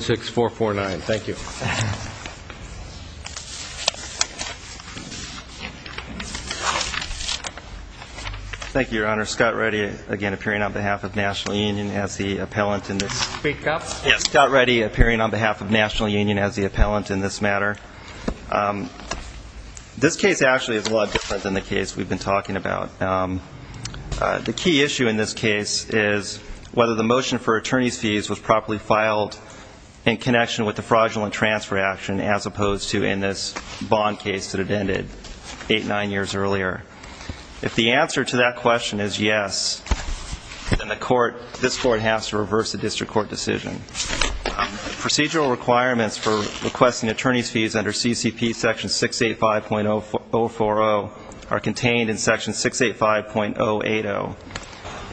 16449. Thank you. Thank you, Your Honor. Scott Reddy, again, appearing on behalf of National Union as the appellant in this matter. This case actually is a lot different than the case we've been talking about. The key issue in this case is whether the motion for attorney's fees was properly filed in connection with the fraudulent transfer action, as opposed to in this bond case that had ended eight, nine years earlier. If the answer to that question is yes, then this court has to reverse the district court decision. Procedural requirements for requesting attorney's fees under CCP section 685.040 are contained in section 685.080.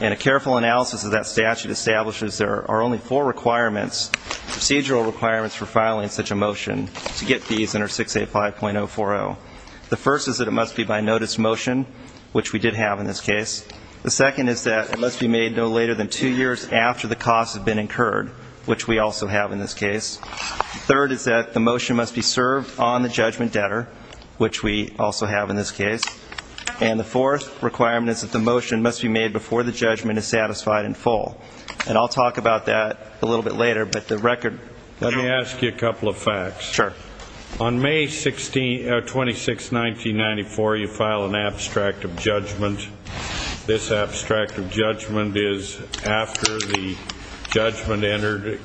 And a careful analysis of that statute establishes there are only four requirements, procedural requirements, for filing such a motion to get fees under 685.040. The first is that it must be by notice motion, which we did have in this case. The second is that it must be made no later than two years after the costs have been incurred, which we also have in this case. Third is that the motion must be served on the judgment debtor, which we also have in this case. And the fourth requirement is that the motion must be made before the judgment is satisfied in full. And I'll talk about that a little bit later, but the record. Let me ask you a couple of facts. Sure. On May 16, 26, 1994, you file an abstract of judgment. This abstract of judgment is after the judgment entered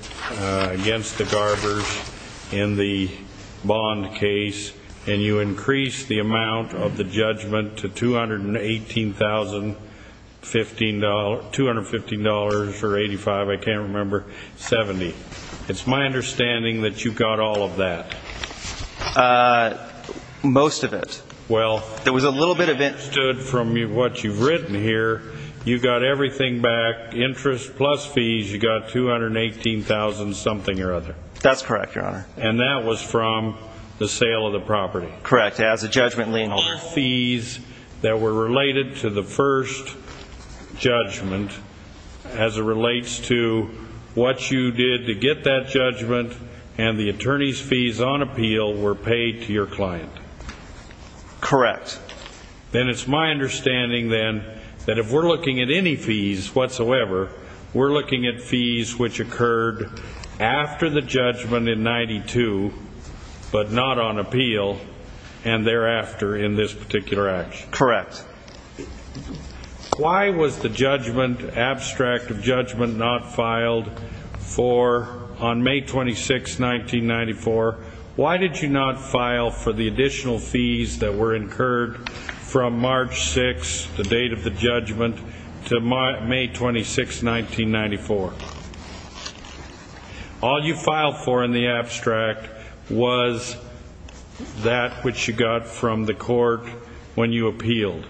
against the garbers in the bond case. And you increase the amount of the judgment to $218,000, $215 or $85, I can't remember, 70. It's my understanding that you got all of that. Most of it. Well. There was a little bit of it. I understood from what you've written here, you got everything back, interest plus fees, you got $218,000 something or other. That's correct, Your Honor. And that was from the sale of the property. Correct, as a judgment lien holder. That were related to the first judgment as it relates to what you did to get that judgment and the attorney's fees on appeal were paid to your client. Correct. Then it's my understanding, then, that if we're looking at any fees whatsoever, we're looking at fees which occurred after the judgment in 92, but not on appeal, and thereafter in this particular action. Correct. Why was the judgment, abstract of judgment, not filed for on May 26, 1994? Why did you not file for the additional fees that were incurred from March 6, the date of the judgment, to May 26, 1994? All you filed for in the abstract was that which you got from the court when you appealed.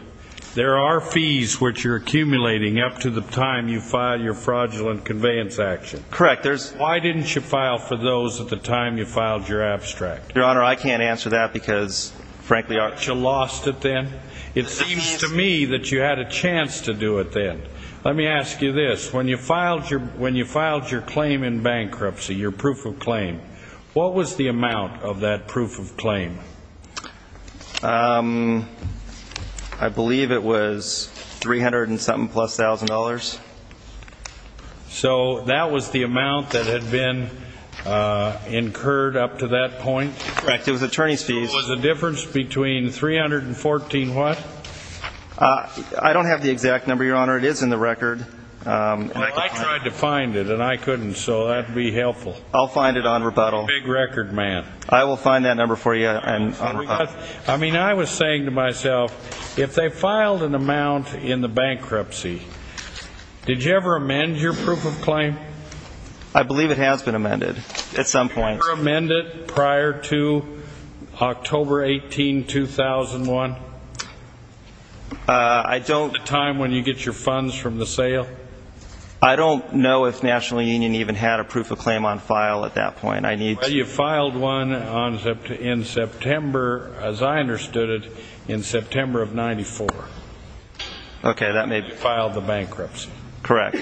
There are fees which you're accumulating up to the time you filed your fraudulent conveyance action. Correct. Why didn't you file for those at the time you filed your abstract? Your Honor, I can't answer that because, frankly, our ---- You lost it then? It seems to me that you had a chance to do it then. Let me ask you this. When you filed your claim in bankruptcy, your proof of claim, what was the amount of that proof of claim? I believe it was 300 and something plus thousand dollars. So that was the amount that had been incurred up to that point? Correct. It was attorney's fees. So it was a difference between 300 and 14 what? I don't have the exact number, Your Honor. It is in the record. I tried to find it and I couldn't, so that would be helpful. I'll find it on rebuttal. You're a big record man. I will find that number for you on rebuttal. I mean, I was saying to myself, if they filed an amount in the bankruptcy, did you ever amend your proof of claim? I believe it has been amended at some point. Did you ever amend it prior to October 18, 2001? I don't. The time when you get your funds from the sale? I don't know if National Union even had a proof of claim on file at that point. You filed one in September, as I understood it, in September of 94. Okay, that may be. You filed the bankruptcy. Correct.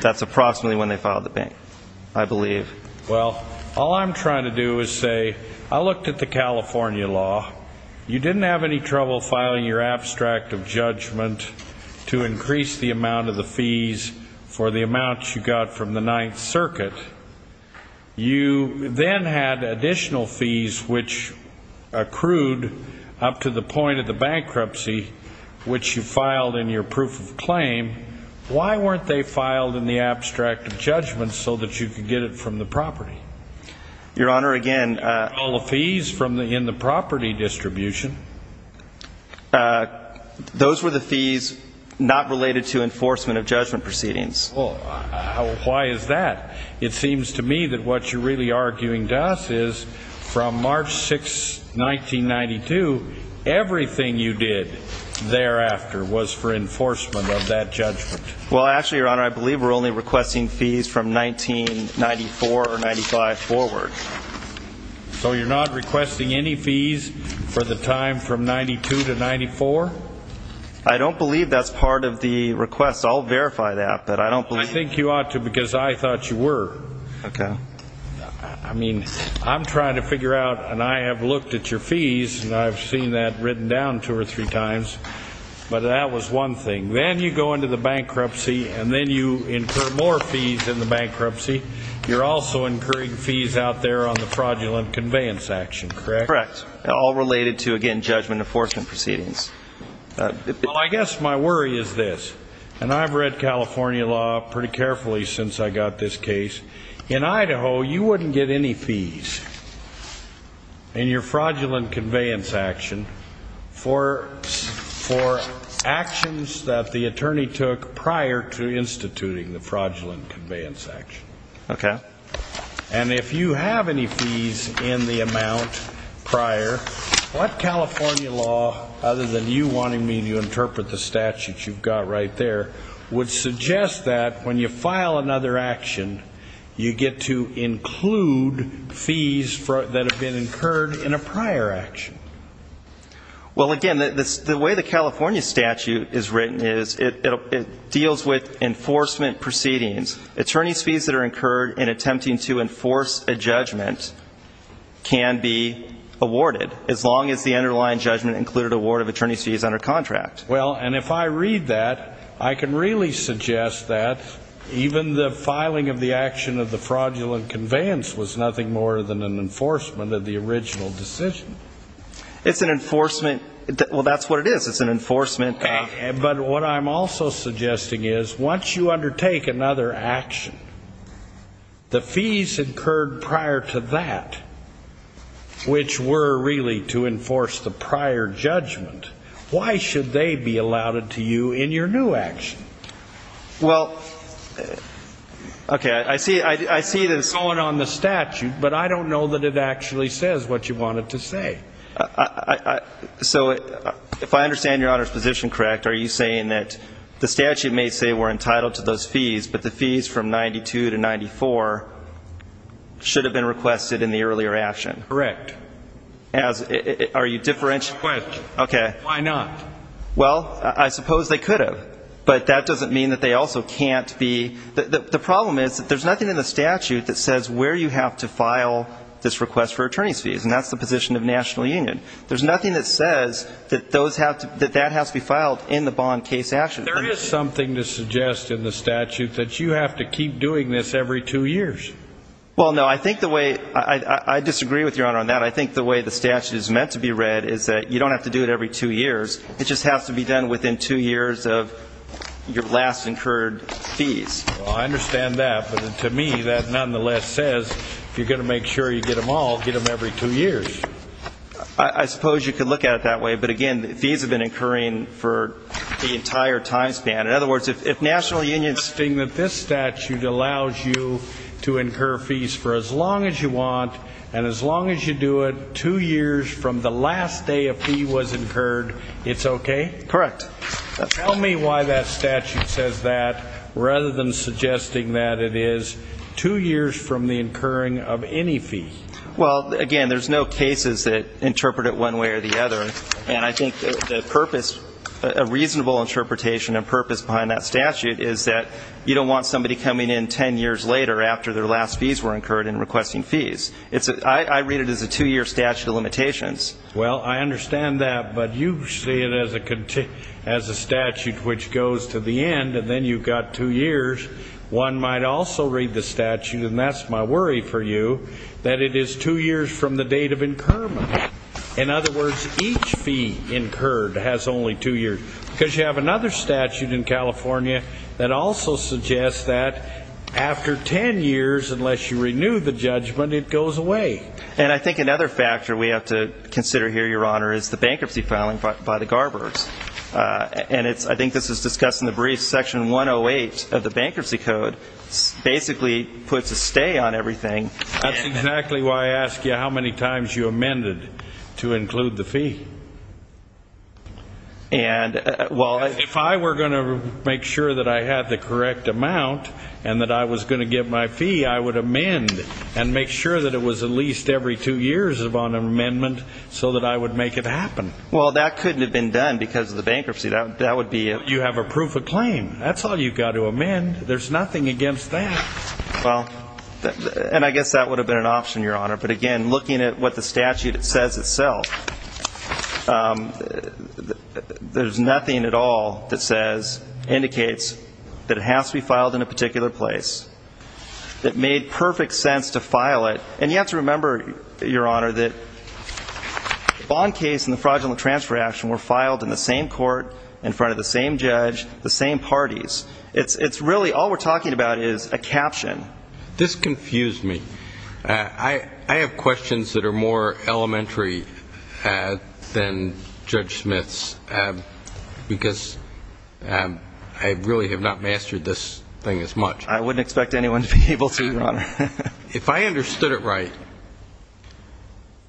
That's approximately when they filed the bankruptcy, I believe. Well, all I'm trying to do is say, I looked at the California law. You didn't have any trouble filing your abstract of judgment to increase the amount of the fees for the amount you got from the Ninth Circuit. You then had additional fees which accrued up to the point of the bankruptcy, which you filed in your proof of claim. Why weren't they filed in the abstract of judgment so that you could get it from the property? Your Honor, again. All the fees in the property distribution. Those were the fees not related to enforcement of judgment proceedings. Why is that? It seems to me that what you're really arguing to us is, from March 6, 1992, everything you did thereafter was for enforcement of that judgment. Well, actually, Your Honor, I believe we're only requesting fees from 1994 or 95 forward. So you're not requesting any fees for the time from 92 to 94? I don't believe that's part of the request. I'll verify that. I think you ought to because I thought you were. Okay. I mean, I'm trying to figure out, and I have looked at your fees, and I've seen that written down two or three times. But that was one thing. Then you go into the bankruptcy, and then you incur more fees in the bankruptcy. You're also incurring fees out there on the fraudulent conveyance action, correct? Correct. All related to, again, judgment enforcement proceedings. Well, I guess my worry is this, and I've read California law pretty carefully since I got this case. In Idaho, you wouldn't get any fees in your fraudulent conveyance action for actions that the attorney took prior to instituting the fraudulent conveyance action. Okay. And if you have any fees in the amount prior, what California law, other than you wanting me to interpret the statute you've got right there, would suggest that when you file another action, you get to include fees that have been incurred in a prior action? Well, again, the way the California statute is written is it deals with enforcement proceedings. Attorneys' fees that are incurred in attempting to enforce a judgment can be awarded, as long as the underlying judgment included a ward of attorneys' fees under contract. Well, and if I read that, I can really suggest that even the filing of the action of the fraudulent conveyance was nothing more than an enforcement of the original decision. It's an enforcement. Well, that's what it is. It's an enforcement. But what I'm also suggesting is once you undertake another action, the fees incurred prior to that, which were really to enforce the prior judgment, why should they be allotted to you in your new action? Well, okay, I see that it's going on the statute, but I don't know that it actually says what you want it to say. So if I understand Your Honor's position correct, are you saying that the statute may say we're entitled to those fees, but the fees from 92 to 94 should have been requested in the earlier action? Correct. Are you differentiating? Why not? Well, I suppose they could have, but that doesn't mean that they also can't be. The problem is that there's nothing in the statute that says where you have to file this request for attorneys' fees, and that's the position of the National Union. There's nothing that says that that has to be filed in the bond case action. There is something to suggest in the statute that you have to keep doing this every two years. Well, no, I think the way the statute is meant to be read is that you don't have to do it every two years. It just has to be done within two years of your last incurred fees. Well, I understand that, but to me that nonetheless says if you're going to make sure you get them all, get them every two years. I suppose you could look at it that way, but, again, fees have been incurring for the entire time span. In other words, if National Union is saying that this statute allows you to incur fees for as long as you want, and as long as you do it two years from the last day a fee was incurred, it's okay? Correct. Tell me why that statute says that rather than suggesting that it is two years from the incurring of any fee. Well, again, there's no cases that interpret it one way or the other, and I think the purpose, a reasonable interpretation and purpose behind that statute is that you don't want somebody coming in 10 years later after their last fees were incurred and requesting fees. I read it as a two-year statute of limitations. Well, I understand that, but you see it as a statute which goes to the end, and then you've got two years. One might also read the statute, and that's my worry for you, that it is two years from the date of incurment. In other words, each fee incurred has only two years. Because you have another statute in California that also suggests that after 10 years, unless you renew the judgment, it goes away. And I think another factor we have to consider here, Your Honor, is the bankruptcy filing by the Garbergs. And I think this was discussed in the brief. Section 108 of the Bankruptcy Code basically puts a stay on everything. That's exactly why I asked you how many times you amended to include the fee. If I were going to make sure that I had the correct amount and that I was going to get my fee, I would amend and make sure that it was at least every two years of an amendment so that I would make it happen. Well, that couldn't have been done because of the bankruptcy. That would be a ---- You have a proof of claim. That's all you've got to amend. There's nothing against that. Well, and I guess that would have been an option, Your Honor. But again, looking at what the statute says itself, there's nothing at all that says, indicates that it has to be filed in a particular place. It made perfect sense to file it. And you have to remember, Your Honor, that the bond case and the fraudulent transfer action were filed in the same court, in front of the same judge, the same parties. It's really all we're talking about is a caption. This confused me. I have questions that are more elementary than Judge Smith's because I really have not mastered this thing as much. I wouldn't expect anyone to be able to, Your Honor. If I understood it right,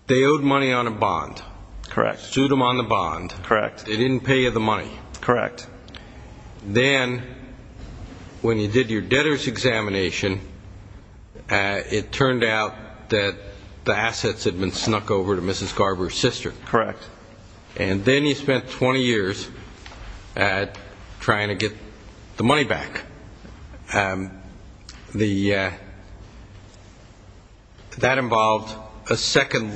they owed money on a bond. Correct. Sued them on the bond. Correct. They didn't pay you the money. Correct. Then when you did your debtors' examination, it turned out that the assets had been snuck over to Mrs. Garber's sister. Correct. And then you spent 20 years trying to get the money back. That involved a second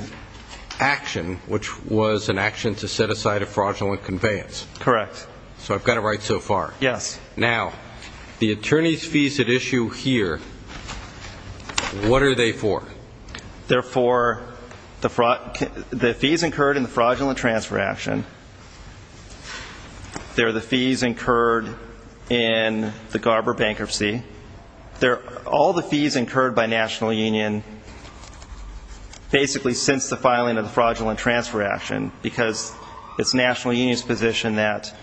action, which was an action to set aside a fraudulent conveyance. Correct. So I've got it right so far. Yes. Now, the attorney's fees at issue here, what are they for? They're for the fees incurred in the fraudulent transfer action. They're the fees incurred in the Garber bankruptcy. They're all the fees incurred by National Union basically since the filing of the fraudulent transfer action because it's National Union's position that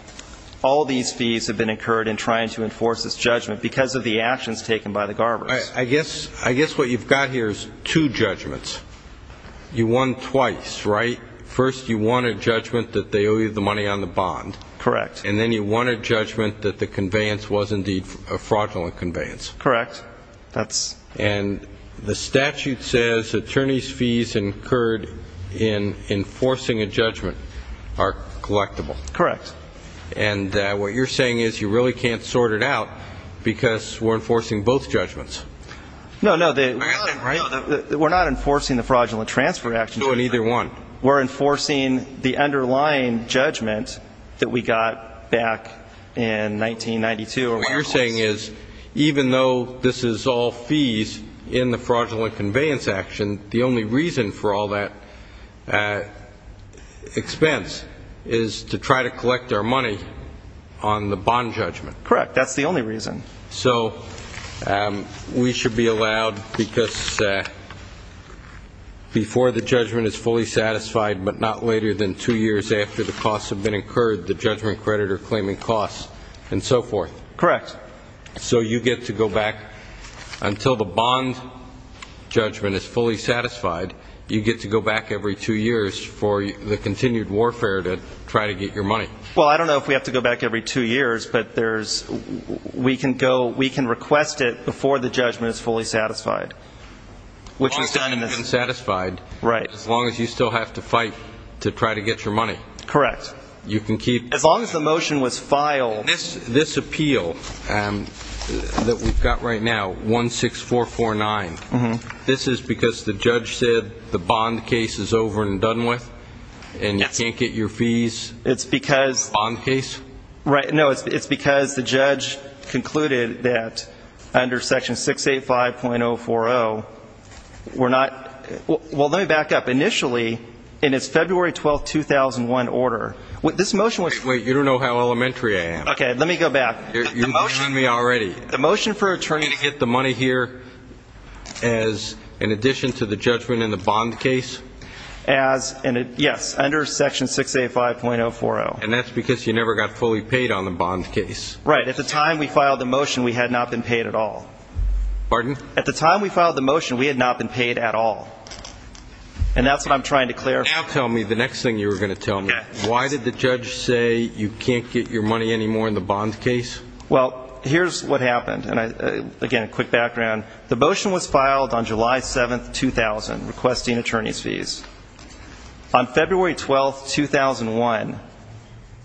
all these fees have been incurred in trying to enforce this judgment because of the actions taken by the Garbers. I guess what you've got here is two judgments. You won twice, right? First, you won a judgment that they owe you the money on the bond. Correct. And then you won a judgment that the conveyance was indeed a fraudulent conveyance. Correct. And the statute says attorney's fees incurred in enforcing a judgment are collectible. Correct. And what you're saying is you really can't sort it out because we're enforcing both judgments. No, no, we're not enforcing the fraudulent transfer action. So in either one. We're enforcing the underlying judgment that we got back in 1992. What you're saying is even though this is all fees in the fraudulent conveyance action, the only reason for all that expense is to try to collect our money on the bond judgment. Correct. That's the only reason. So we should be allowed because before the judgment is fully satisfied but not later than two years after the costs have been incurred, the judgment creditor claiming costs and so forth. Correct. So you get to go back until the bond judgment is fully satisfied, you get to go back every two years for the continued warfare to try to get your money. Well, I don't know if we have to go back every two years, but we can request it before the judgment is fully satisfied. As long as you've been satisfied. Right. As long as you still have to fight to try to get your money. Correct. As long as the motion was filed. This appeal that we've got right now, 16449, this is because the judge said the bond case is over and done with? And you can't get your fees? It's because. Bond case? Right. No, it's because the judge concluded that under Section 685.040, we're not. Well, let me back up. Initially, in its February 12, 2001 order, this motion was. Wait, you don't know how elementary I am. Okay, let me go back. You're behind me already. The motion for an attorney to get the money here as in addition to the judgment in the bond case? Yes, under Section 685.040. And that's because you never got fully paid on the bond case. Right. At the time we filed the motion, we had not been paid at all. Pardon? At the time we filed the motion, we had not been paid at all. And that's what I'm trying to clarify. Now tell me the next thing you were going to tell me. Why did the judge say you can't get your money anymore in the bond case? Well, here's what happened. And, again, quick background. On February 12, 2001,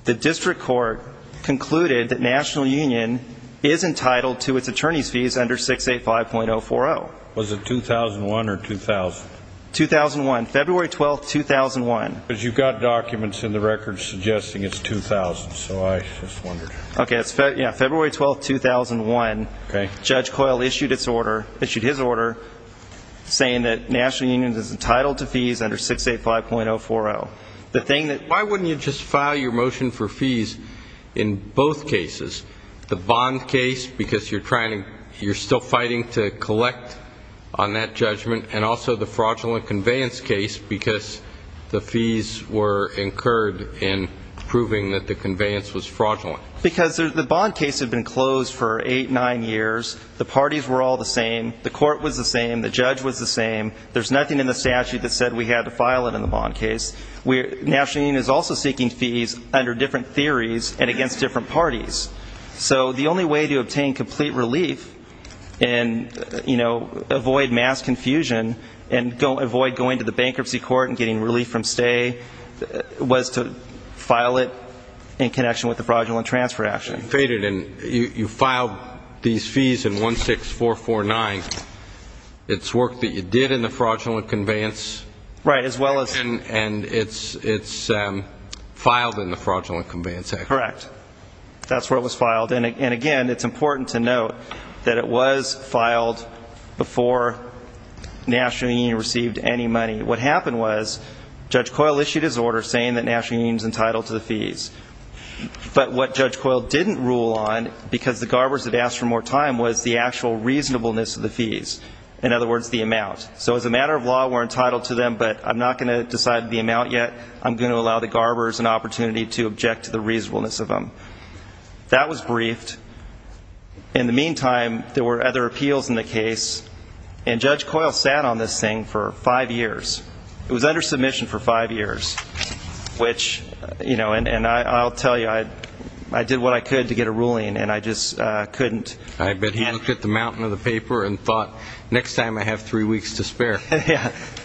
the district court concluded that National Union is entitled to its attorney's fees under 685.040. Was it 2001 or 2000? 2001, February 12, 2001. Because you've got documents in the records suggesting it's 2000, so I just wondered. Okay, it's February 12, 2001. Okay. And then Judge Coyle issued his order saying that National Union is entitled to fees under 685.040. Why wouldn't you just file your motion for fees in both cases, the bond case, because you're still fighting to collect on that judgment, and also the fraudulent conveyance case because the fees were incurred in proving that the conveyance was fraudulent? Because the bond case had been closed for eight, nine years. The parties were all the same. The court was the same. The judge was the same. There's nothing in the statute that said we had to file it in the bond case. National Union is also seeking fees under different theories and against different parties. So the only way to obtain complete relief and, you know, avoid mass confusion and avoid going to the bankruptcy court and getting relief from stay was to file it in connection with the fraudulent transfer action. You filed these fees in 16449. It's work that you did in the fraudulent conveyance. Right, as well as ñ And it's filed in the Fraudulent Conveyance Act. Correct. That's where it was filed. And, again, it's important to note that it was filed before National Union received any money. What happened was Judge Coyle issued his order saying that National Union is entitled to the fees. But what Judge Coyle didn't rule on, because the Garbers had asked for more time, was the actual reasonableness of the fees. In other words, the amount. So as a matter of law, we're entitled to them, but I'm not going to decide the amount yet. I'm going to allow the Garbers an opportunity to object to the reasonableness of them. That was briefed. In the meantime, there were other appeals in the case. And Judge Coyle sat on this thing for five years. It was under submission for five years. And I'll tell you, I did what I could to get a ruling, and I just couldn't. I bet he looked at the mountain of the paper and thought, next time I have three weeks to spare.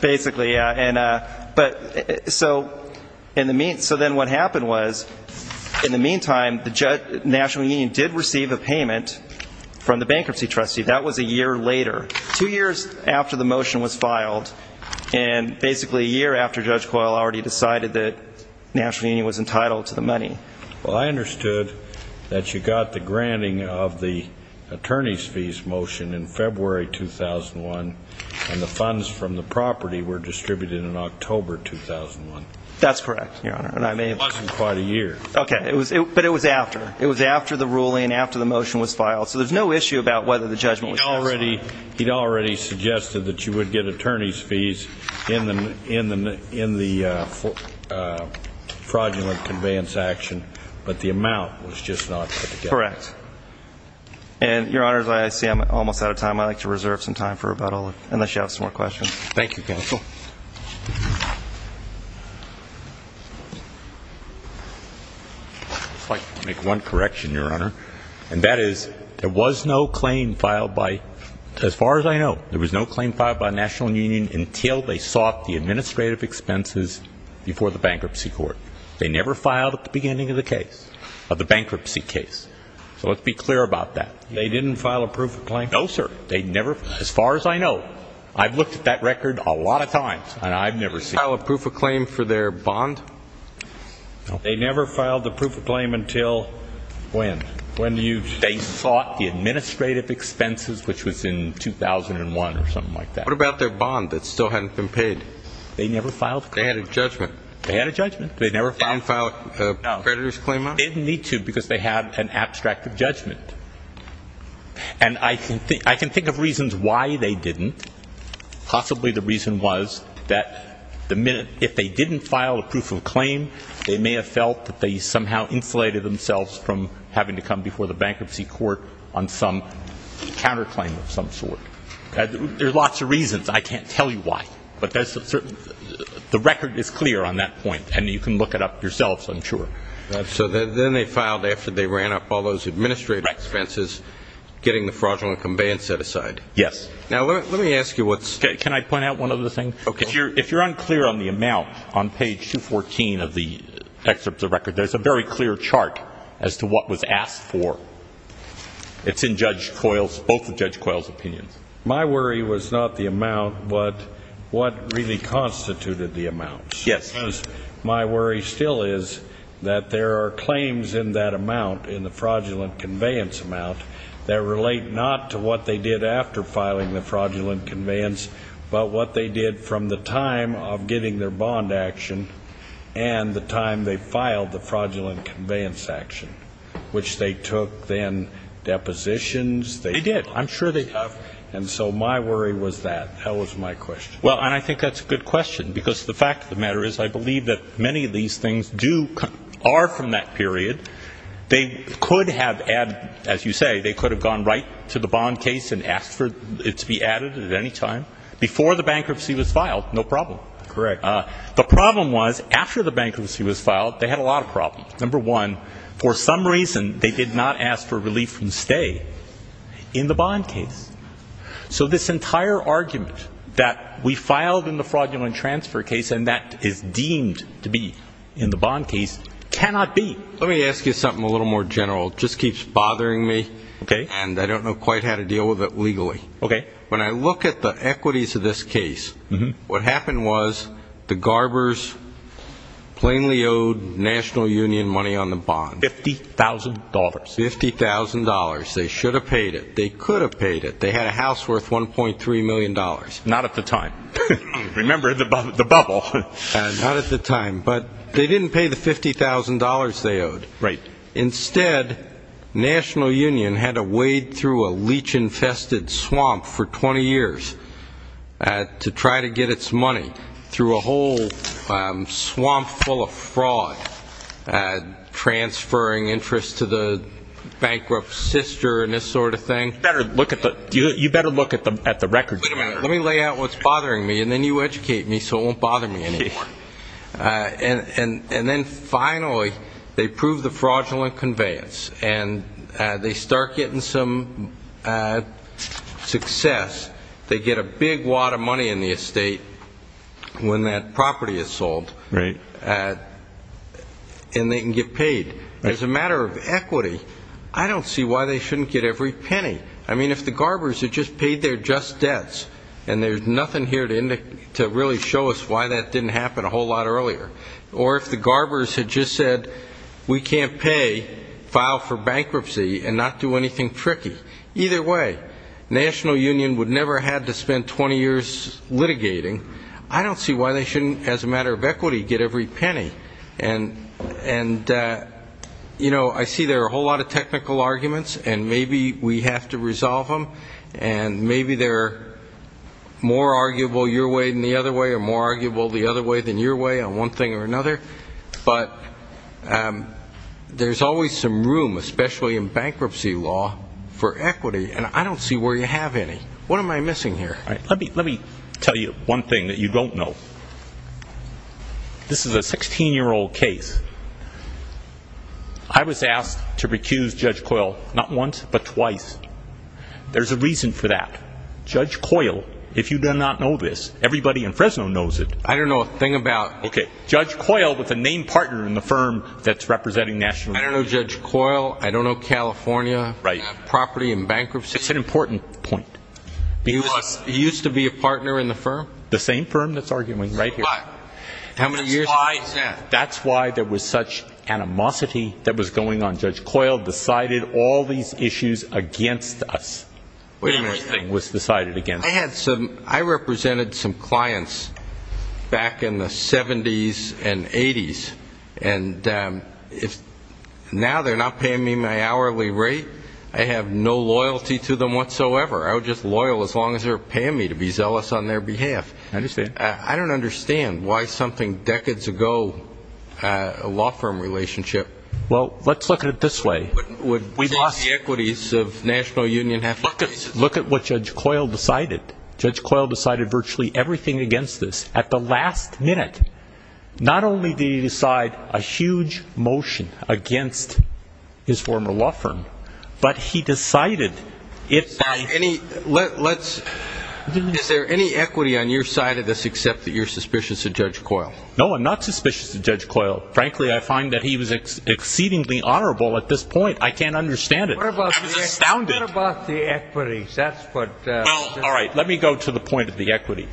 Basically, yeah. So then what happened was, in the meantime, National Union did receive a payment from the bankruptcy trustee. That was a year later, two years after the motion was filed, and basically a year after Judge Coyle already decided that National Union was entitled to the money. Well, I understood that you got the granting of the attorney's fees motion in February 2001, and the funds from the property were distributed in October 2001. That's correct, Your Honor. It wasn't quite a year. Okay. But it was after. It was after the ruling and after the motion was filed. So there's no issue about whether the judgment was passed or not. He'd already suggested that you would get attorney's fees in the fraudulent conveyance action, but the amount was just not put together. Correct. And, Your Honor, I see I'm almost out of time. I'd like to reserve some time for rebuttal, unless you have some more questions. Thank you, counsel. I'd like to make one correction, Your Honor. And that is there was no claim filed by, as far as I know, there was no claim filed by National Union until they sought the administrative expenses before the bankruptcy court. They never filed at the beginning of the case, of the bankruptcy case. So let's be clear about that. They didn't file a proof of claim? No, sir. They never? As far as I know. I've looked at that record a lot of times, and I've never seen it. They didn't file a proof of claim for their bond? No. They never filed a proof of claim until when? When you? They sought the administrative expenses, which was in 2001 or something like that. What about their bond that still hadn't been paid? They never filed a claim? They had a judgment. They had a judgment. They never filed a creditor's claim on it? No. They didn't need to because they had an abstract of judgment. And I can think of reasons why they didn't. Possibly the reason was that if they didn't file a proof of claim, they may have felt that they somehow insulated themselves from having to come before the bankruptcy court on some counterclaim of some sort. There are lots of reasons. I can't tell you why. But the record is clear on that point, and you can look it up yourselves, I'm sure. So then they filed after they ran up all those administrative expenses, getting the fraudulent conveyance set aside. Yes. Now, let me ask you what's. Can I point out one other thing? Okay. If you're unclear on the amount on page 214 of the excerpt of the record, there's a very clear chart as to what was asked for. It's in Judge Coyle's, both of Judge Coyle's opinions. My worry was not the amount, but what really constituted the amount. Yes. Because my worry still is that there are claims in that amount, in the fraudulent conveyance amount, that relate not to what they did after filing the fraudulent conveyance, but what they did from the time of getting their bond action and the time they filed the fraudulent conveyance action, which they took then depositions. They did. I'm sure they have. And so my worry was that. That was my question. Well, and I think that's a good question, because the fact of the matter is, I believe that many of these things are from that period. They could have added, as you say, they could have gone right to the bond case and asked for it to be added at any time before the bankruptcy was filed. No problem. Correct. The problem was, after the bankruptcy was filed, they had a lot of problems. Number one, for some reason, they did not ask for relief from stay in the bond case. So this entire argument that we filed in the fraudulent transfer case and that is deemed to be in the bond case cannot be. Let me ask you something a little more general. It just keeps bothering me. Okay. And I don't know quite how to deal with it legally. Okay. When I look at the equities of this case, what happened was the Garbers plainly owed National Union money on the bond. $50,000. $50,000. They should have paid it. They could have paid it. They had a house worth $1.3 million. Not at the time. Remember the bubble. Not at the time. But they didn't pay the $50,000 they owed. Right. Instead, National Union had to wade through a leech-infested swamp for 20 years to try to get its money through a whole swamp full of fraud, transferring interest to the bankrupt sister and this sort of thing. You better look at the records. Wait a minute. Let me lay out what's bothering me, and then you educate me so it won't bother me anymore. And then, finally, they prove the fraudulent conveyance, and they start getting some success. They get a big wad of money in the estate when that property is sold. Right. And they can get paid. As a matter of equity, I don't see why they shouldn't get every penny. I mean, if the Garbers had just paid their just debts, and there's nothing here to really show us why that didn't happen a whole lot earlier, or if the Garbers had just said, we can't pay, file for bankruptcy, and not do anything tricky. Either way, National Union would never have had to spend 20 years litigating. I don't see why they shouldn't, as a matter of equity, get every penny. And, you know, I see there are a whole lot of technical arguments, and maybe we have to resolve them, and maybe they're more arguable your way than the other way, or more arguable the other way than your way on one thing or another. But there's always some room, especially in bankruptcy law, for equity, and I don't see where you have any. What am I missing here? Let me tell you one thing that you don't know. This is a 16-year-old case. I was asked to recuse Judge Coyle not once but twice. There's a reason for that. Judge Coyle, if you do not know this, everybody in Fresno knows it. I don't know a thing about. Okay. Judge Coyle with a named partner in the firm that's representing National Union. I don't know Judge Coyle. I don't know California. Right. Property and bankruptcy. It's an important point. He used to be a partner in the firm? The same firm that's arguing right here. How many years has he been there? That's why there was such animosity that was going on. Judge Coyle decided all these issues against us. Everything was decided against us. I represented some clients back in the 70s and 80s, and now they're not paying me my hourly rate. I have no loyalty to them whatsoever. I'm just loyal as long as they're paying me to be zealous on their behalf. I understand. I don't understand why something decades ago, a law firm relationship. Well, let's look at it this way. Would the equities of National Union have to be based on this? Look at what Judge Coyle decided. Judge Coyle decided virtually everything against this. At the last minute, not only did he decide a huge motion against his former law firm, but he decided it's not. Is there any equity on your side of this except that you're suspicious of Judge Coyle? No, I'm not suspicious of Judge Coyle. Frankly, I find that he was exceedingly honorable at this point. I can't understand it. I was astounded. What about the equities? All right, let me go to the point of the equity.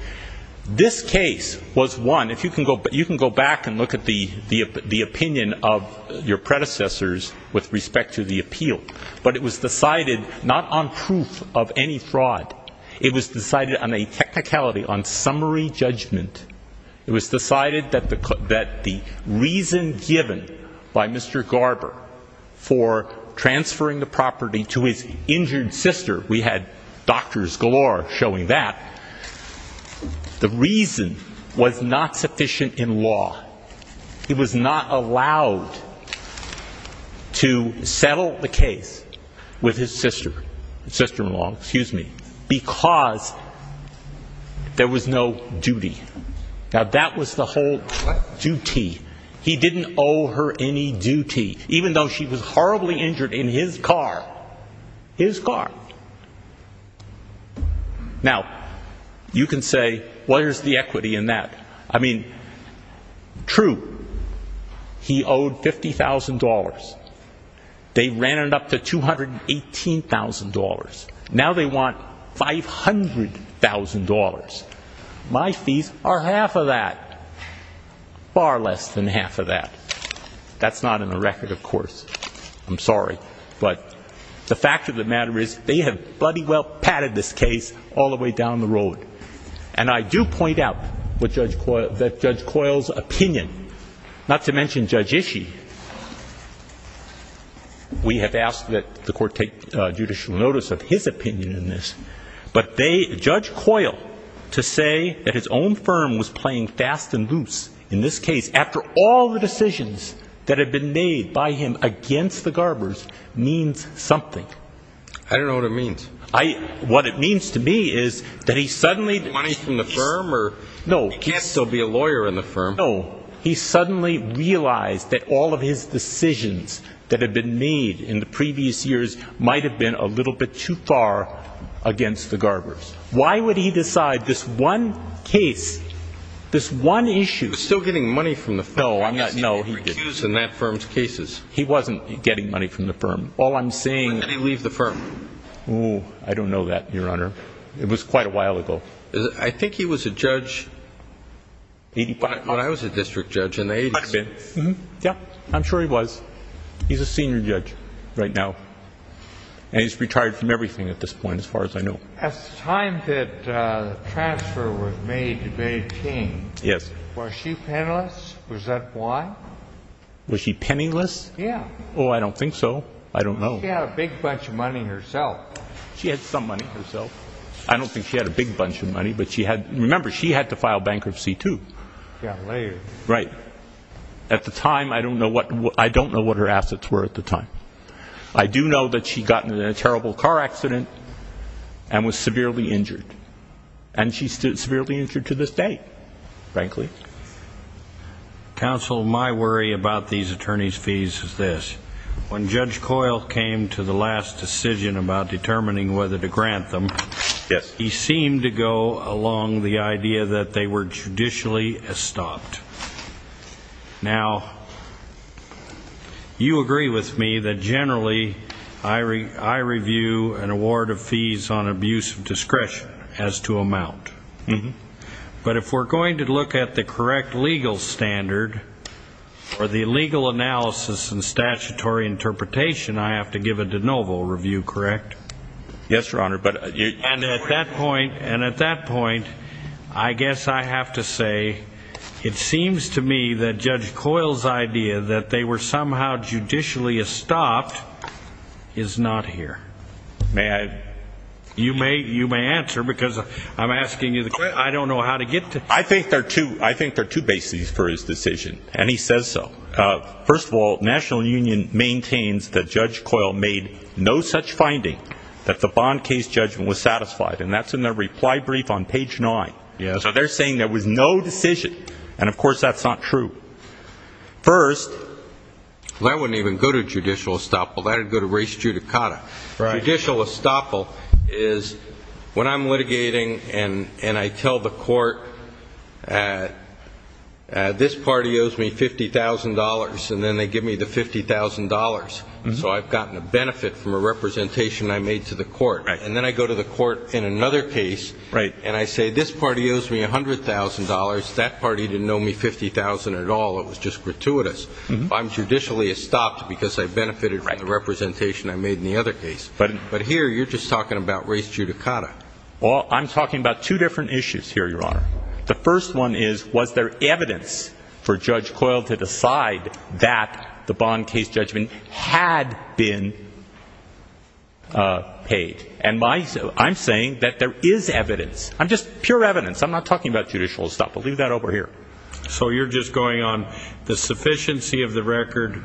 This case was won. You can go back and look at the opinion of your predecessors with respect to the appeal, but it was decided not on proof of any fraud. It was decided on a technicality, on summary judgment. It was decided that the reason given by Mr. Garber for transferring the property to his injured sister, we had doctors galore showing that, the reason was not sufficient in law. He was not allowed to settle the case with his sister-in-law because there was no duty. Now, that was the whole duty. He didn't owe her any duty, even though she was horribly injured in his car. His car. Now, you can say, well, here's the equity in that. I mean, true, he owed $50,000. They ran it up to $218,000. Now they want $500,000. My fees are half of that, far less than half of that. That's not in the record, of course. I'm sorry, but the fact of the matter is they have bloody well padded this case all the way down the road. And I do point out that Judge Coyle's opinion, not to mention Judge Ishii, we have asked that the Court take judicial notice of his opinion in this, but Judge Coyle to say that his own firm was playing fast and loose in this case, after all the decisions that had been made by him against the Garbers, means something. I don't know what it means. What it means to me is that he suddenly ---- Money from the firm? No. He can't still be a lawyer in the firm. No. He suddenly realized that all of his decisions that had been made in the previous years might have been a little bit too far against the Garbers. Why would he decide this one case, this one issue ---- He was still getting money from the firm. No, he didn't. He was getting recused in that firm's cases. He wasn't getting money from the firm. All I'm saying ---- I don't know. I don't know that, Your Honor. It was quite a while ago. I think he was a judge when I was a district judge in the 80s. Yeah, I'm sure he was. He's a senior judge right now, and he's retired from everything at this point as far as I know. At the time that the transfer was made to Bay King, was she penniless? Was that why? Was she penniless? Yeah. Oh, I don't think so. I don't know. She had a big bunch of money herself. She had some money herself. I don't think she had a big bunch of money, but remember, she had to file bankruptcy too. She got laid. Right. At the time, I don't know what her assets were at the time. I do know that she got in a terrible car accident and was severely injured, and she's still severely injured to this day, frankly. Counsel, my worry about these attorneys' fees is this. When Judge Coyle came to the last decision about determining whether to grant them, he seemed to go along the idea that they were judicially estopped. Now, you agree with me that generally I review an award of fees on abuse of discretion as to amount. But if we're going to look at the correct legal standard or the legal analysis and statutory interpretation, I have to give a de novo review, correct? Yes, Your Honor. And at that point, I guess I have to say it seems to me that Judge Coyle's idea that they were somehow judicially estopped is not here. You may answer because I'm asking you the question. I don't know how to get to it. I think there are two bases for his decision, and he says so. First of all, National Union maintains that Judge Coyle made no such finding that the bond case judgment was satisfied, and that's in the reply brief on page 9. So they're saying there was no decision, and, of course, that's not true. First, that wouldn't even go to judicial estoppel. That would go to res judicata. Judicial estoppel is when I'm litigating and I tell the court this party owes me $50,000, and then they give me the $50,000. So I've gotten a benefit from a representation I made to the court. And then I go to the court in another case, and I say this party owes me $100,000. That party didn't owe me $50,000 at all. It was just gratuitous. I'm judicially estopped because I benefited from the representation I made in the other case. But here you're just talking about res judicata. Well, I'm talking about two different issues here, Your Honor. The first one is was there evidence for Judge Coyle to decide that the bond case judgment had been paid? And I'm saying that there is evidence. I'm just pure evidence. I'm not talking about judicial estoppel. Leave that over here. So you're just going on the sufficiency of the record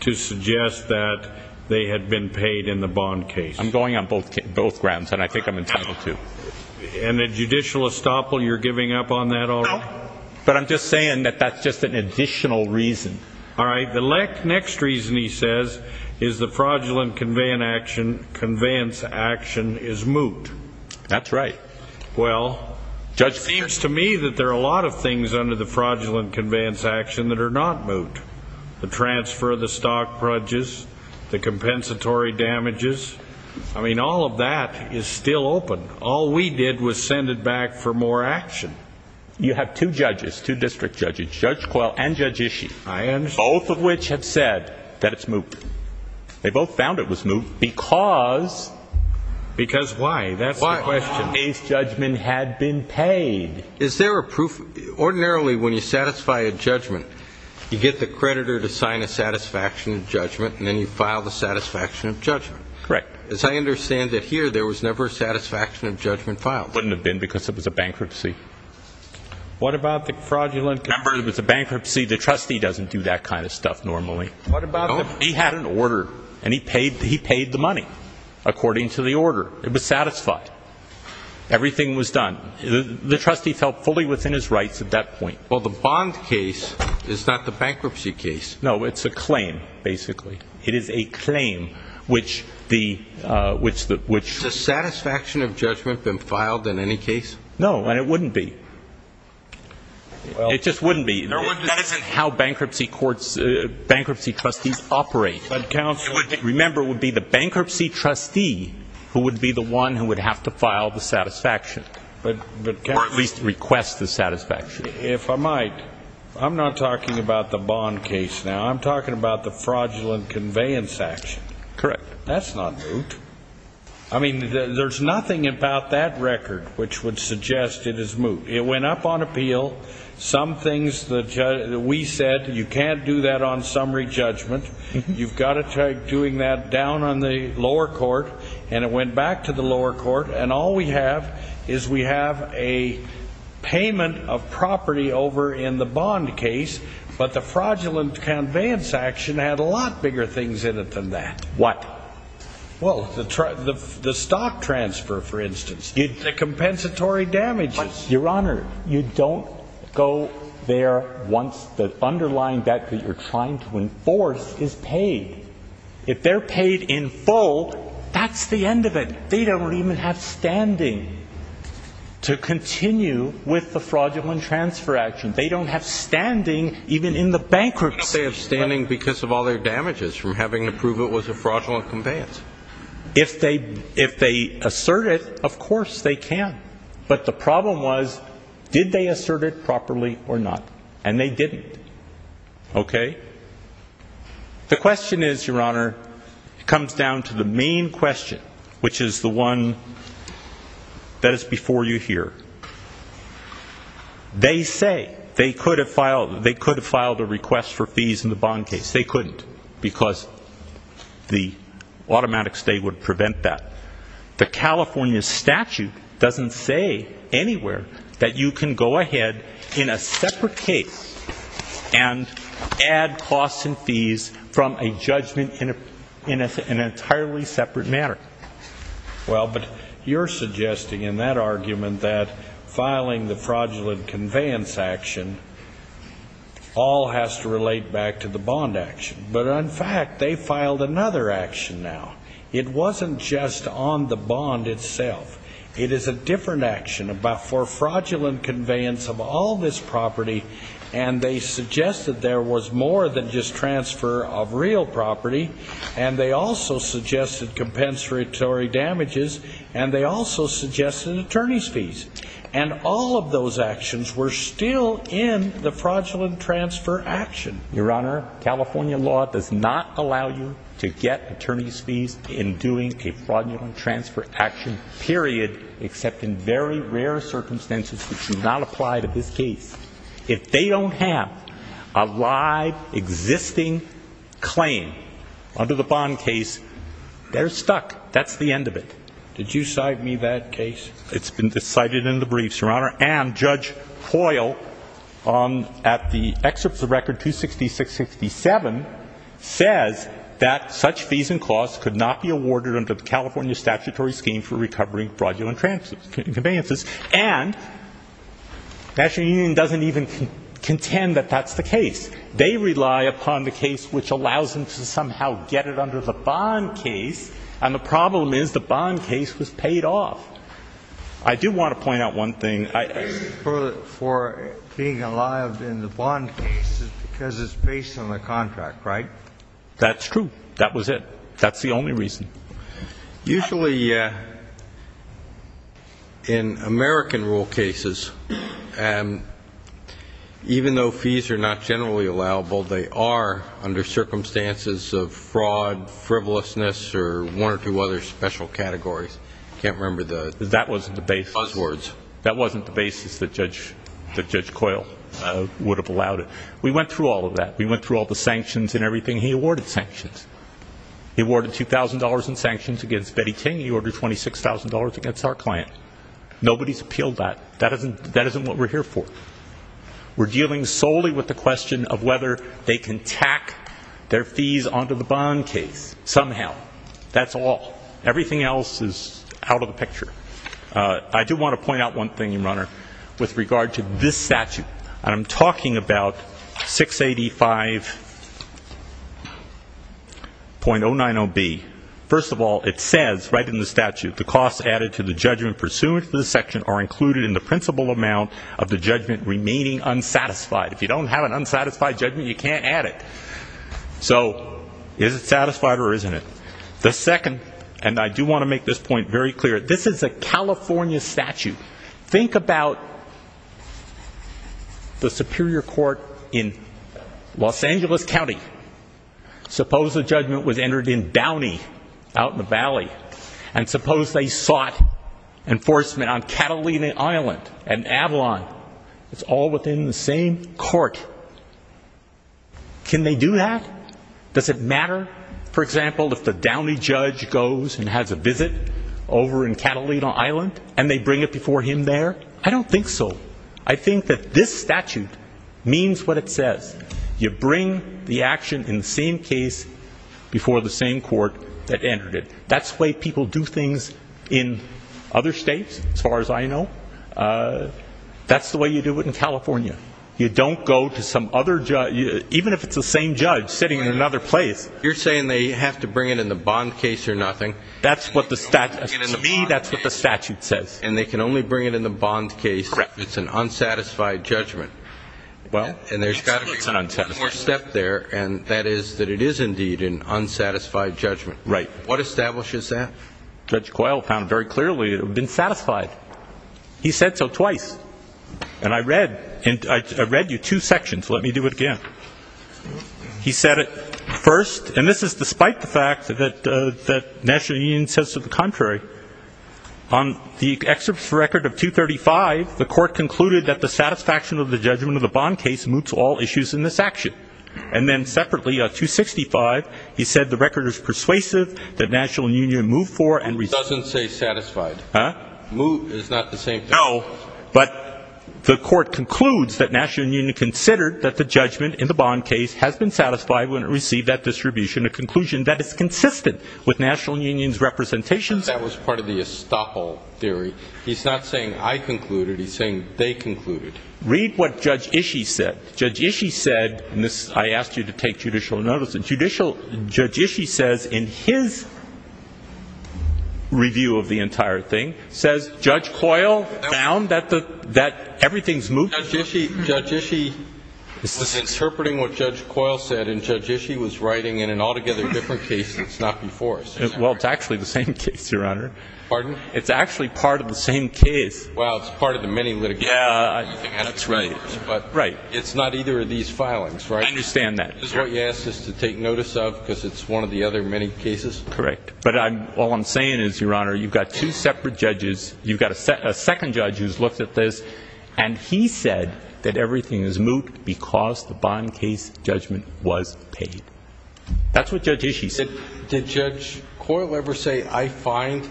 to suggest that they had been paid in the bond case. I'm going on both grounds, and I think I'm entitled to. And the judicial estoppel, you're giving up on that already? No, but I'm just saying that that's just an additional reason. All right. The next reason, he says, is the fraudulent conveyance action is moot. That's right. Well, it seems to me that there are a lot of things under the fraudulent conveyance action that are not moot, the transfer of the stock brudges, the compensatory damages. I mean, all of that is still open. All we did was send it back for more action. You have two judges, two district judges, Judge Coyle and Judge Ishii, both of which have said that it's moot. They both found it was moot because? Because why? That's the question. The case judgment had been paid. Is there a proof? Ordinarily, when you satisfy a judgment, you get the creditor to sign a satisfaction of judgment, and then you file the satisfaction of judgment. Correct. As I understand it here, there was never a satisfaction of judgment filed. Wouldn't have been because it was a bankruptcy. What about the fraudulent? Remember, it was a bankruptcy. The trustee doesn't do that kind of stuff normally. He had an order, and he paid the money according to the order. It was satisfied. Everything was done. The trustee felt fully within his rights at that point. Well, the bond case is not the bankruptcy case. No, it's a claim, basically. It is a claim, which the ‑‑ Has the satisfaction of judgment been filed in any case? No, and it wouldn't be. It just wouldn't be. That isn't how bankruptcy courts, bankruptcy trustees operate. Remember, it would be the bankruptcy trustee who would be the one who would have to file the satisfaction. Or at least request the satisfaction. If I might, I'm not talking about the bond case now. I'm talking about the fraudulent conveyance action. Correct. That's not moot. I mean, there's nothing about that record which would suggest it is moot. It went up on appeal. We said you can't do that on summary judgment. You've got to try doing that down on the lower court. And it went back to the lower court. And all we have is we have a payment of property over in the bond case. But the fraudulent conveyance action had a lot bigger things in it than that. What? Well, the stock transfer, for instance. The compensatory damages. Your Honor, you don't go there once the underlying debt that you're trying to enforce is paid. If they're paid in full, that's the end of it. They don't even have standing to continue with the fraudulent transfer action. They don't have standing even in the bankruptcy. They have standing because of all their damages from having to prove it was a fraudulent conveyance. If they assert it, of course they can. But the problem was, did they assert it properly or not? And they didn't. Okay? The question is, Your Honor, it comes down to the main question, which is the one that is before you here. They say they could have filed a request for fees in the bond case. They couldn't because the automatic state would prevent that. The California statute doesn't say anywhere that you can go ahead in a separate case and add costs and fees from a judgment in an entirely separate matter. Well, but you're suggesting in that argument that filing the fraudulent conveyance action all has to relate back to the bond action. But, in fact, they filed another action now. It wasn't just on the bond itself. It is a different action for fraudulent conveyance of all this property, and they suggested there was more than just transfer of real property, and they also suggested compensatory damages, and they also suggested attorney's fees. And all of those actions were still in the fraudulent transfer action. Your Honor, California law does not allow you to get attorney's fees in doing a fraudulent transfer action, period, except in very rare circumstances that do not apply to this case. If they don't have a live, existing claim under the bond case, they're stuck. That's the end of it. Did you cite me that case? Your Honor, and Judge Coyle, at the excerpts of Record 266-67, says that such fees and costs could not be awarded under the California statutory scheme for recovering fraudulent conveyances, and the National Union doesn't even contend that that's the case. They rely upon the case which allows them to somehow get it under the bond case, and the problem is the bond case was paid off. I do want to point out one thing. For being allowed in the bond case is because it's based on the contract, right? That's true. That was it. That's the only reason. Usually in American rule cases, even though fees are not generally allowable, they are under circumstances of fraud, frivolousness, or one or two other special categories. I can't remember the buzzwords. That wasn't the basis that Judge Coyle would have allowed it. We went through all of that. We went through all the sanctions and everything. He awarded sanctions. He awarded $2,000 in sanctions against Betty King. He ordered $26,000 against our client. Nobody's appealed that. That isn't what we're here for. We're dealing solely with the question of whether they can tack their fees onto the bond case somehow. That's all. Everything else is out of the picture. I do want to point out one thing, Your Honor, with regard to this statute. I'm talking about 685.090B. First of all, it says right in the statute, the costs added to the judgment pursuant to this section are included in the principal amount of the judgment remaining unsatisfied. If you don't have an unsatisfied judgment, you can't add it. So is it satisfied or isn't it? The second, and I do want to make this point very clear, this is a California statute. Think about the Superior Court in Los Angeles County. Suppose the judgment was entered in Downey out in the valley. And suppose they sought enforcement on Catalina Island and Avalon. It's all within the same court. Can they do that? Does it matter, for example, if the Downey judge goes and has a visit over in Catalina Island and they bring it before him there? I don't think so. I think that this statute means what it says. You bring the action in the same case before the same court that entered it. That's the way people do things in other states, as far as I know. That's the way you do it in California. You don't go to some other judge, even if it's the same judge sitting in another place. You're saying they have to bring it in the bond case or nothing? To me, that's what the statute says. And they can only bring it in the bond case if it's an unsatisfied judgment. And there's got to be one more step there, and that is that it is indeed an unsatisfied judgment. Right. What establishes that? Judge Coyle found very clearly it would have been satisfied. He said so twice. And I read you two sections. Let me do it again. He said it first, and this is despite the fact that National Union says to the contrary. On the excerpt from the record of 235, the court concluded that the satisfaction of the judgment of the bond case moots all issues in this action. And then separately, on 265, he said the record is persuasive, that National Union moved for and resumed. It doesn't say satisfied. Huh? Move is not the same thing. No. But the court concludes that National Union considered that the judgment in the bond case has been satisfied when it received that distribution, a conclusion that is consistent with National Union's representations. That was part of the estoppel theory. He's not saying I concluded. He's saying they concluded. Read what Judge Ishii said. Judge Ishii said, and I asked you to take judicial notice, Judge Ishii says in his review of the entire thing, says Judge Coyle found that everything's moved. Judge Ishii was interpreting what Judge Coyle said, and Judge Ishii was writing in an altogether different case than it's not before. Well, it's actually the same case, Your Honor. Pardon? It's actually part of the same case. Well, it's part of the many litigations. Yeah, that's right. But it's not either of these filings, right? I understand that. Just what you asked us to take notice of because it's one of the other many cases? Correct. But all I'm saying is, Your Honor, you've got two separate judges. You've got a second judge who's looked at this, and he said that everything is moved because the bond case judgment was paid. That's what Judge Ishii said. Did Judge Coyle ever say, I find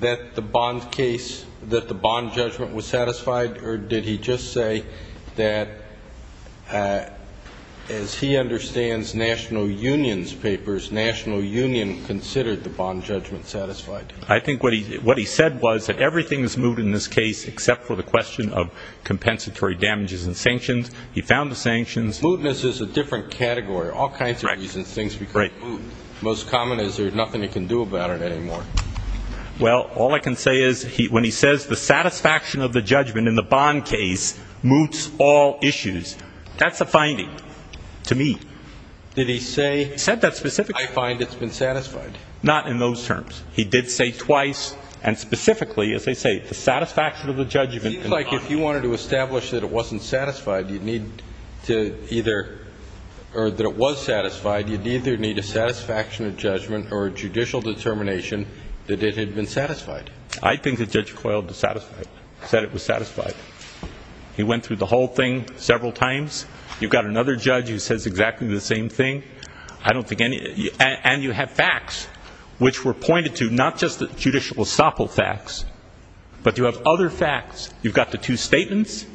that the bond case, that the bond judgment was satisfied, or did he just say that, as he understands National Union's papers, National Union considered the bond judgment satisfied? I think what he said was that everything is moved in this case except for the question of compensatory damages and sanctions. He found the sanctions. Mootness is a different category. All kinds of reasons things become moot. Most common is there's nothing he can do about it anymore. Well, all I can say is when he says the satisfaction of the judgment in the bond case moots all issues, that's a finding to me. Did he say? He said that specifically. I find it's been satisfied. Not in those terms. He did say twice, and specifically, as they say, the satisfaction of the judgment in the bond. It seems like if you wanted to establish that it wasn't satisfied, you'd need to either or that it was satisfied, you'd either need a satisfaction of judgment or a judicial determination that it had been satisfied. I think that Judge Coyle said it was satisfied. He went through the whole thing several times. You've got another judge who says exactly the same thing. And you have facts which were pointed to, not just the judicial estoppel facts, but you have other facts. You've got the two statements.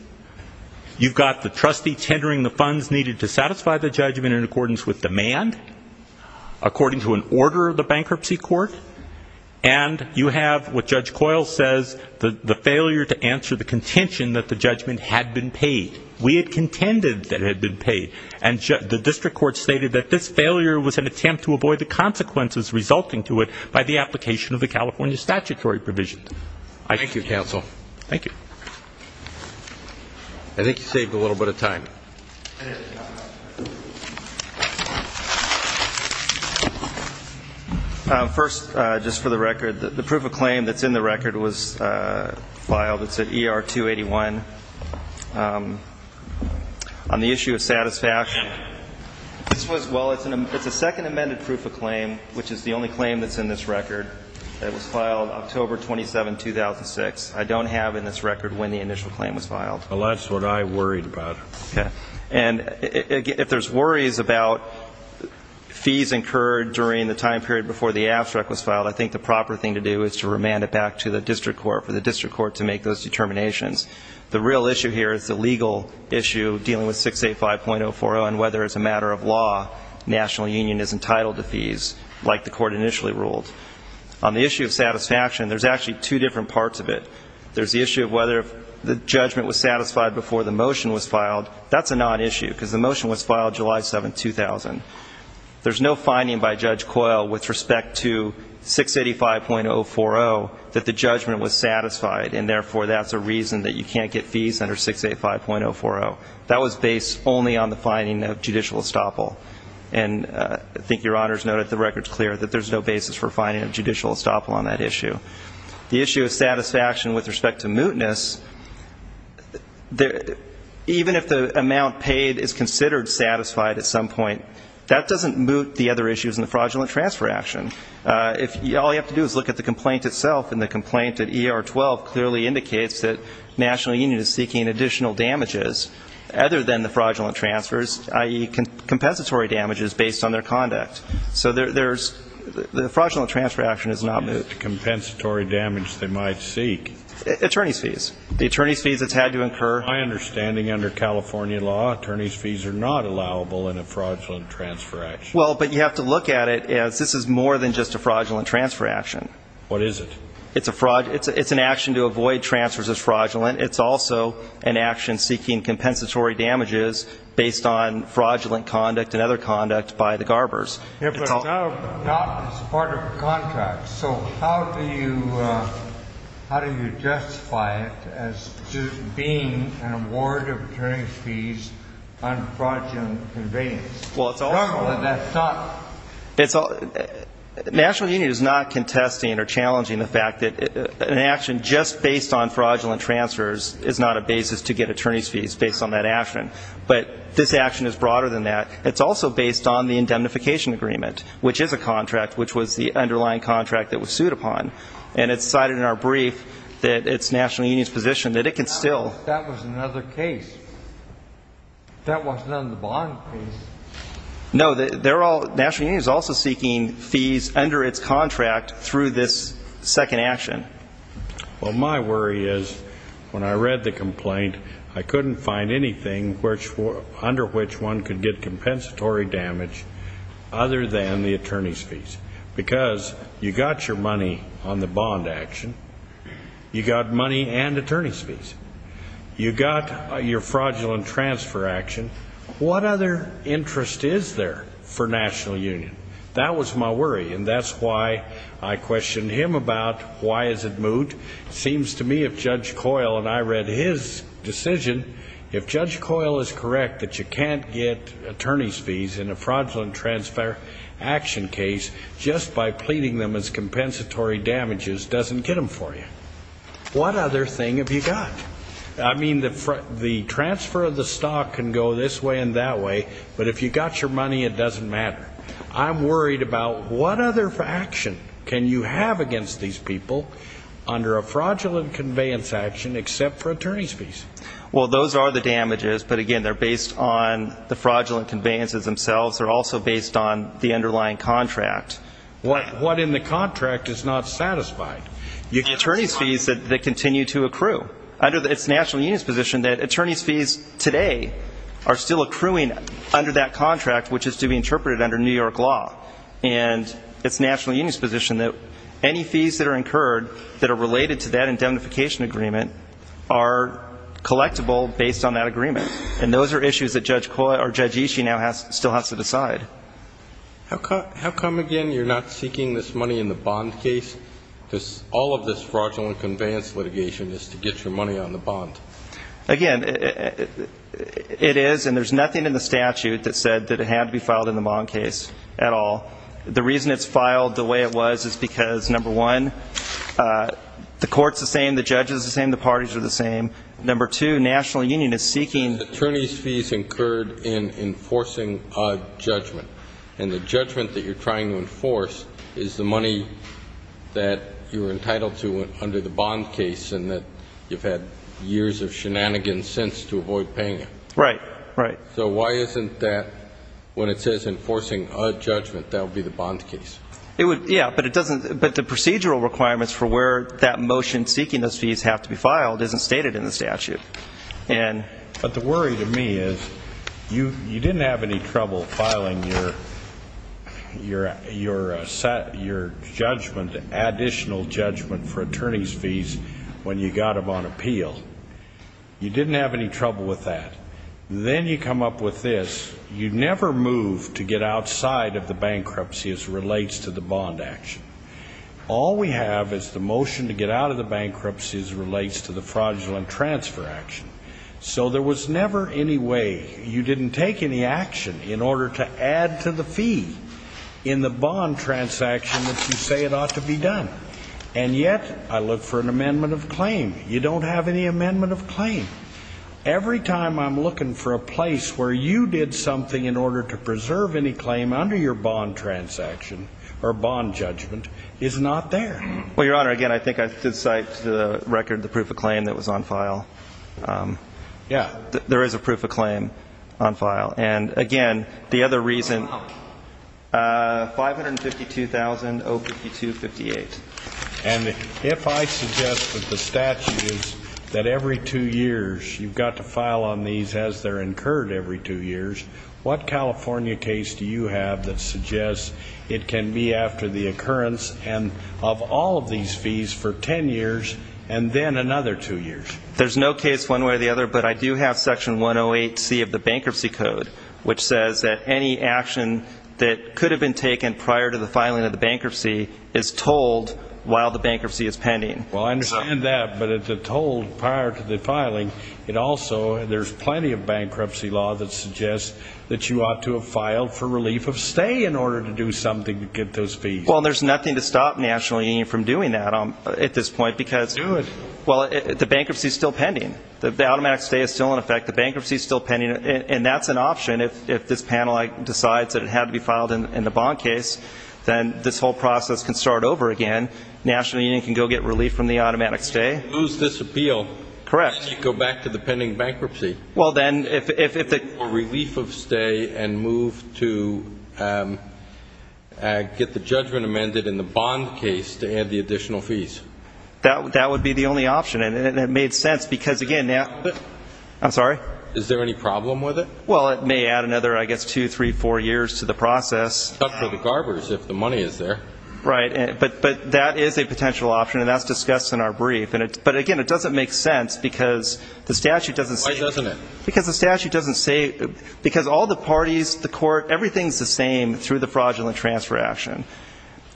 You've got the trustee tendering the funds needed to satisfy the judgment in accordance with demand, according to an order of the bankruptcy court. And you have what Judge Coyle says, the failure to answer the contention that the judgment had been paid. We had contended that it had been paid. And the district court stated that this failure was an attempt to avoid the consequences resulting to it by the application of the California statutory provisions. Thank you, counsel. Thank you. I think you saved a little bit of time. First, just for the record, the proof of claim that's in the record was filed. It's at ER 281. On the issue of satisfaction, this was, well, it's a second amended proof of claim, which is the only claim that's in this record. It was filed October 27, 2006. I don't have in this record when the initial claim was filed. Well, that's what I worried about. Okay. And if there's worries about fees incurred during the time period before the abstract was filed, I think the proper thing to do is to remand it back to the district court for the district court to make those determinations. The real issue here is the legal issue dealing with 685.040 and whether as a matter of law national union is entitled to fees like the court initially ruled. On the issue of satisfaction, there's actually two different parts of it. There's the issue of whether the judgment was satisfied before the motion was filed. That's a non-issue because the motion was filed July 7, 2000. There's no finding by Judge Coyle with respect to 685.040 that the judgment was satisfied, and therefore that's a reason that you can't get fees under 685.040. That was based only on the finding of judicial estoppel. And I think Your Honors noted the record's clear that there's no basis for finding of judicial estoppel on that issue. The issue of satisfaction with respect to mootness, even if the amount paid is considered satisfied at some point, that doesn't moot the other issues in the fraudulent transfer action. All you have to do is look at the complaint itself, and the complaint at ER 12 clearly indicates that national union is seeking additional damages other than the fraudulent transfers, i.e., compensatory damages based on their conduct. So the fraudulent transfer action is not moot. What is the compensatory damage they might seek? Attorney's fees. The attorney's fees it's had to incur. My understanding under California law, attorney's fees are not allowable in a fraudulent transfer action. Well, but you have to look at it as this is more than just a fraudulent transfer action. What is it? It's an action to avoid transfers as fraudulent. It's also an action seeking compensatory damages based on fraudulent conduct and other conduct by the garbers. But it's not as part of the contract. So how do you justify it as being an award of attorney's fees on fraudulent conveyance? Well, it's also. That's not. National union is not contesting or challenging the fact that an action just based on fraudulent transfers is not a basis to get attorney's fees based on that action. But this action is broader than that. It's also based on the indemnification agreement, which is a contract, which was the underlying contract that was sued upon. And it's cited in our brief that it's national union's position that it can still. That was another case. That wasn't under the bond case. No, national union is also seeking fees under its contract through this second action. Well, my worry is when I read the complaint, I couldn't find anything under which one could get compensatory damage other than the attorney's fees. Because you got your money on the bond action. You got money and attorney's fees. You got your fraudulent transfer action. What other interest is there for national union? That was my worry. And that's why I questioned him about why is it moot. It seems to me if Judge Coyle and I read his decision, if Judge Coyle is correct that you can't get attorney's fees in a fraudulent transfer action case just by pleading them as compensatory damages doesn't get them for you. What other thing have you got? I mean, the transfer of the stock can go this way and that way, but if you got your money, it doesn't matter. I'm worried about what other action can you have against these people under a fraudulent conveyance action except for attorney's fees. Well, those are the damages, but, again, they're based on the fraudulent conveyances themselves. They're also based on the underlying contract. What in the contract is not satisfied? You get attorney's fees that continue to accrue. It's the national union's position that attorney's fees today are still accruing under that contract, which is to be interpreted under New York law. And it's the national union's position that any fees that are incurred that are related to that indemnification agreement are collectible based on that agreement. And those are issues that Judge Coyle or Judge Ishii now still has to decide. How come, again, you're not seeking this money in the bond case? All of this fraudulent conveyance litigation is to get your money on the bond. Again, it is, and there's nothing in the statute that said that it had to be filed in the bond case at all. The reason it's filed the way it was is because, number one, the court's the same, the judge is the same, the parties are the same. Number two, national union is seeking. Attorney's fees incurred in enforcing a judgment, and the judgment that you're trying to enforce is the money that you were entitled to under the bond case and that you've had years of shenanigans since to avoid paying it. Right, right. So why isn't that, when it says enforcing a judgment, that would be the bond case? Yeah, but it doesn't. But the procedural requirements for where that motion seeking those fees have to be filed isn't stated in the statute. But the worry to me is you didn't have any trouble filing your judgment, additional judgment for attorney's fees when you got them on appeal. You didn't have any trouble with that. Then you come up with this. You never moved to get outside of the bankruptcy as relates to the bond action. All we have is the motion to get out of the bankruptcy as relates to the fraudulent transfer action. So there was never any way you didn't take any action in order to add to the fee in the bond transaction that you say it ought to be done. And yet I look for an amendment of claim. You don't have any amendment of claim. Every time I'm looking for a place where you did something in order to preserve any claim under your bond transaction or bond judgment is not there. Well, Your Honor, again, I think I did cite to the record the proof of claim that was on file. Yeah. There is a proof of claim on file. And, again, the other reason 552,052.58. And if I suggest that the statute is that every two years you've got to file on these as they're incurred every two years, what California case do you have that suggests it can be after the occurrence of all of these fees for ten years and then another two years? There's no case one way or the other, but I do have Section 108C of the Bankruptcy Code, which says that any action that could have been taken prior to the filing of the bankruptcy is told while the bankruptcy is pending. Well, I understand that, but it's a told prior to the filing. It also, there's plenty of bankruptcy law that suggests that you ought to have filed for relief of stay in order to do something to get those fees. Well, there's nothing to stop National Union from doing that at this point because the bankruptcy is still pending. The automatic stay is still in effect. The bankruptcy is still pending. And that's an option. If this panel decides that it had to be filed in the bond case, then this whole process can start over again. National Union can go get relief from the automatic stay. Lose this appeal. Correct. Go back to the pending bankruptcy. Well, then, if the Or relief of stay and move to get the judgment amended in the bond case to add the additional fees. That would be the only option. And it made sense because, again, now I'm sorry. Is there any problem with it? Well, it may add another, I guess, two, three, four years to the process. Except for the garbage, if the money is there. Right. But that is a potential option, and that's discussed in our brief. But, again, it doesn't make sense because the statute doesn't say Why doesn't it? Because the statute doesn't say, because all the parties, the court, everything's the same through the fraudulent transfer action.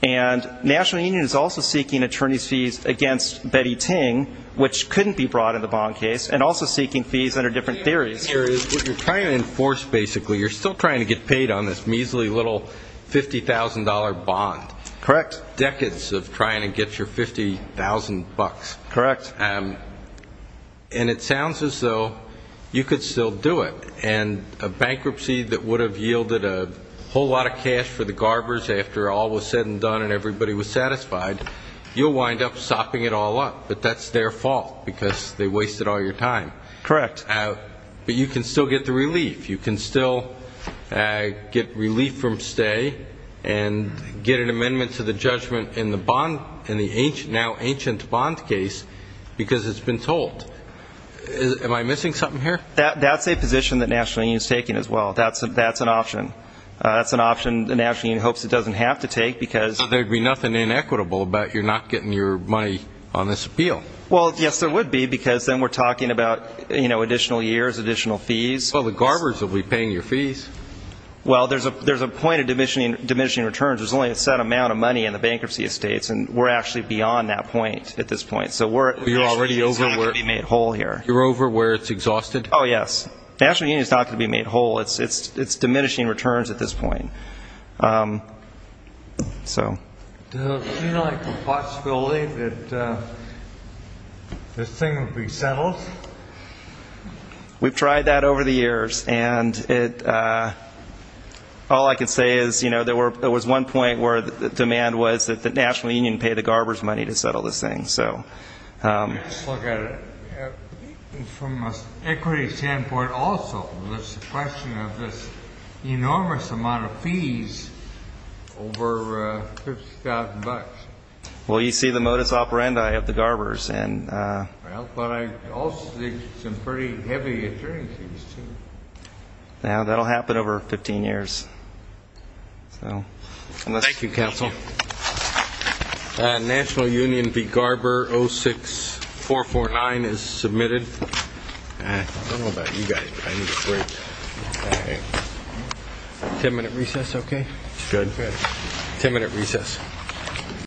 And National Union is also seeking attorney's fees against Betty Ting, which couldn't be brought in the bond case, and also seeking fees under different theories. What you're trying to enforce, basically, you're still trying to get paid on this measly little $50,000 bond. Correct. Decades of trying to get your $50,000. Correct. And it sounds as though you could still do it. And a bankruptcy that would have yielded a whole lot of cash for the garbers after all was said and done and everybody was satisfied, you'll wind up sopping it all up. But that's their fault because they wasted all your time. Correct. But you can still get the relief. You can still get relief from stay and get an amendment to the judgment in the bond, in the now ancient bond case, because it's been told. Am I missing something here? That's a position that National Union is taking as well. That's an option. That's an option the National Union hopes it doesn't have to take because So there would be nothing inequitable about you not getting your money on this appeal. Well, yes, there would be because then we're talking about additional years, additional fees. Well, the garbers will be paying your fees. Well, there's a point of diminishing returns. There's only a set amount of money in the bankruptcy estates and we're actually beyond that point at this point. So we're already over where it's exhausted. Oh, yes. National Union is not going to be made whole. It's diminishing returns at this point. Does it seem like a possibility that this thing would be settled? We've tried that over the years. All I can say is there was one point where the demand was that the National Union pay the garbers money to settle this thing. Let's look at it from an equity standpoint also. There's a question of this enormous amount of fees over $50,000. Well, you see the modus operandi of the garbers. But I also see some pretty heavy attorney fees, too. That will happen over 15 years. Thank you, counsel. National Union v. Garber 06449 is submitted. I don't know about you guys, but I need a break. Ten-minute recess, okay? Good. Ten-minute recess.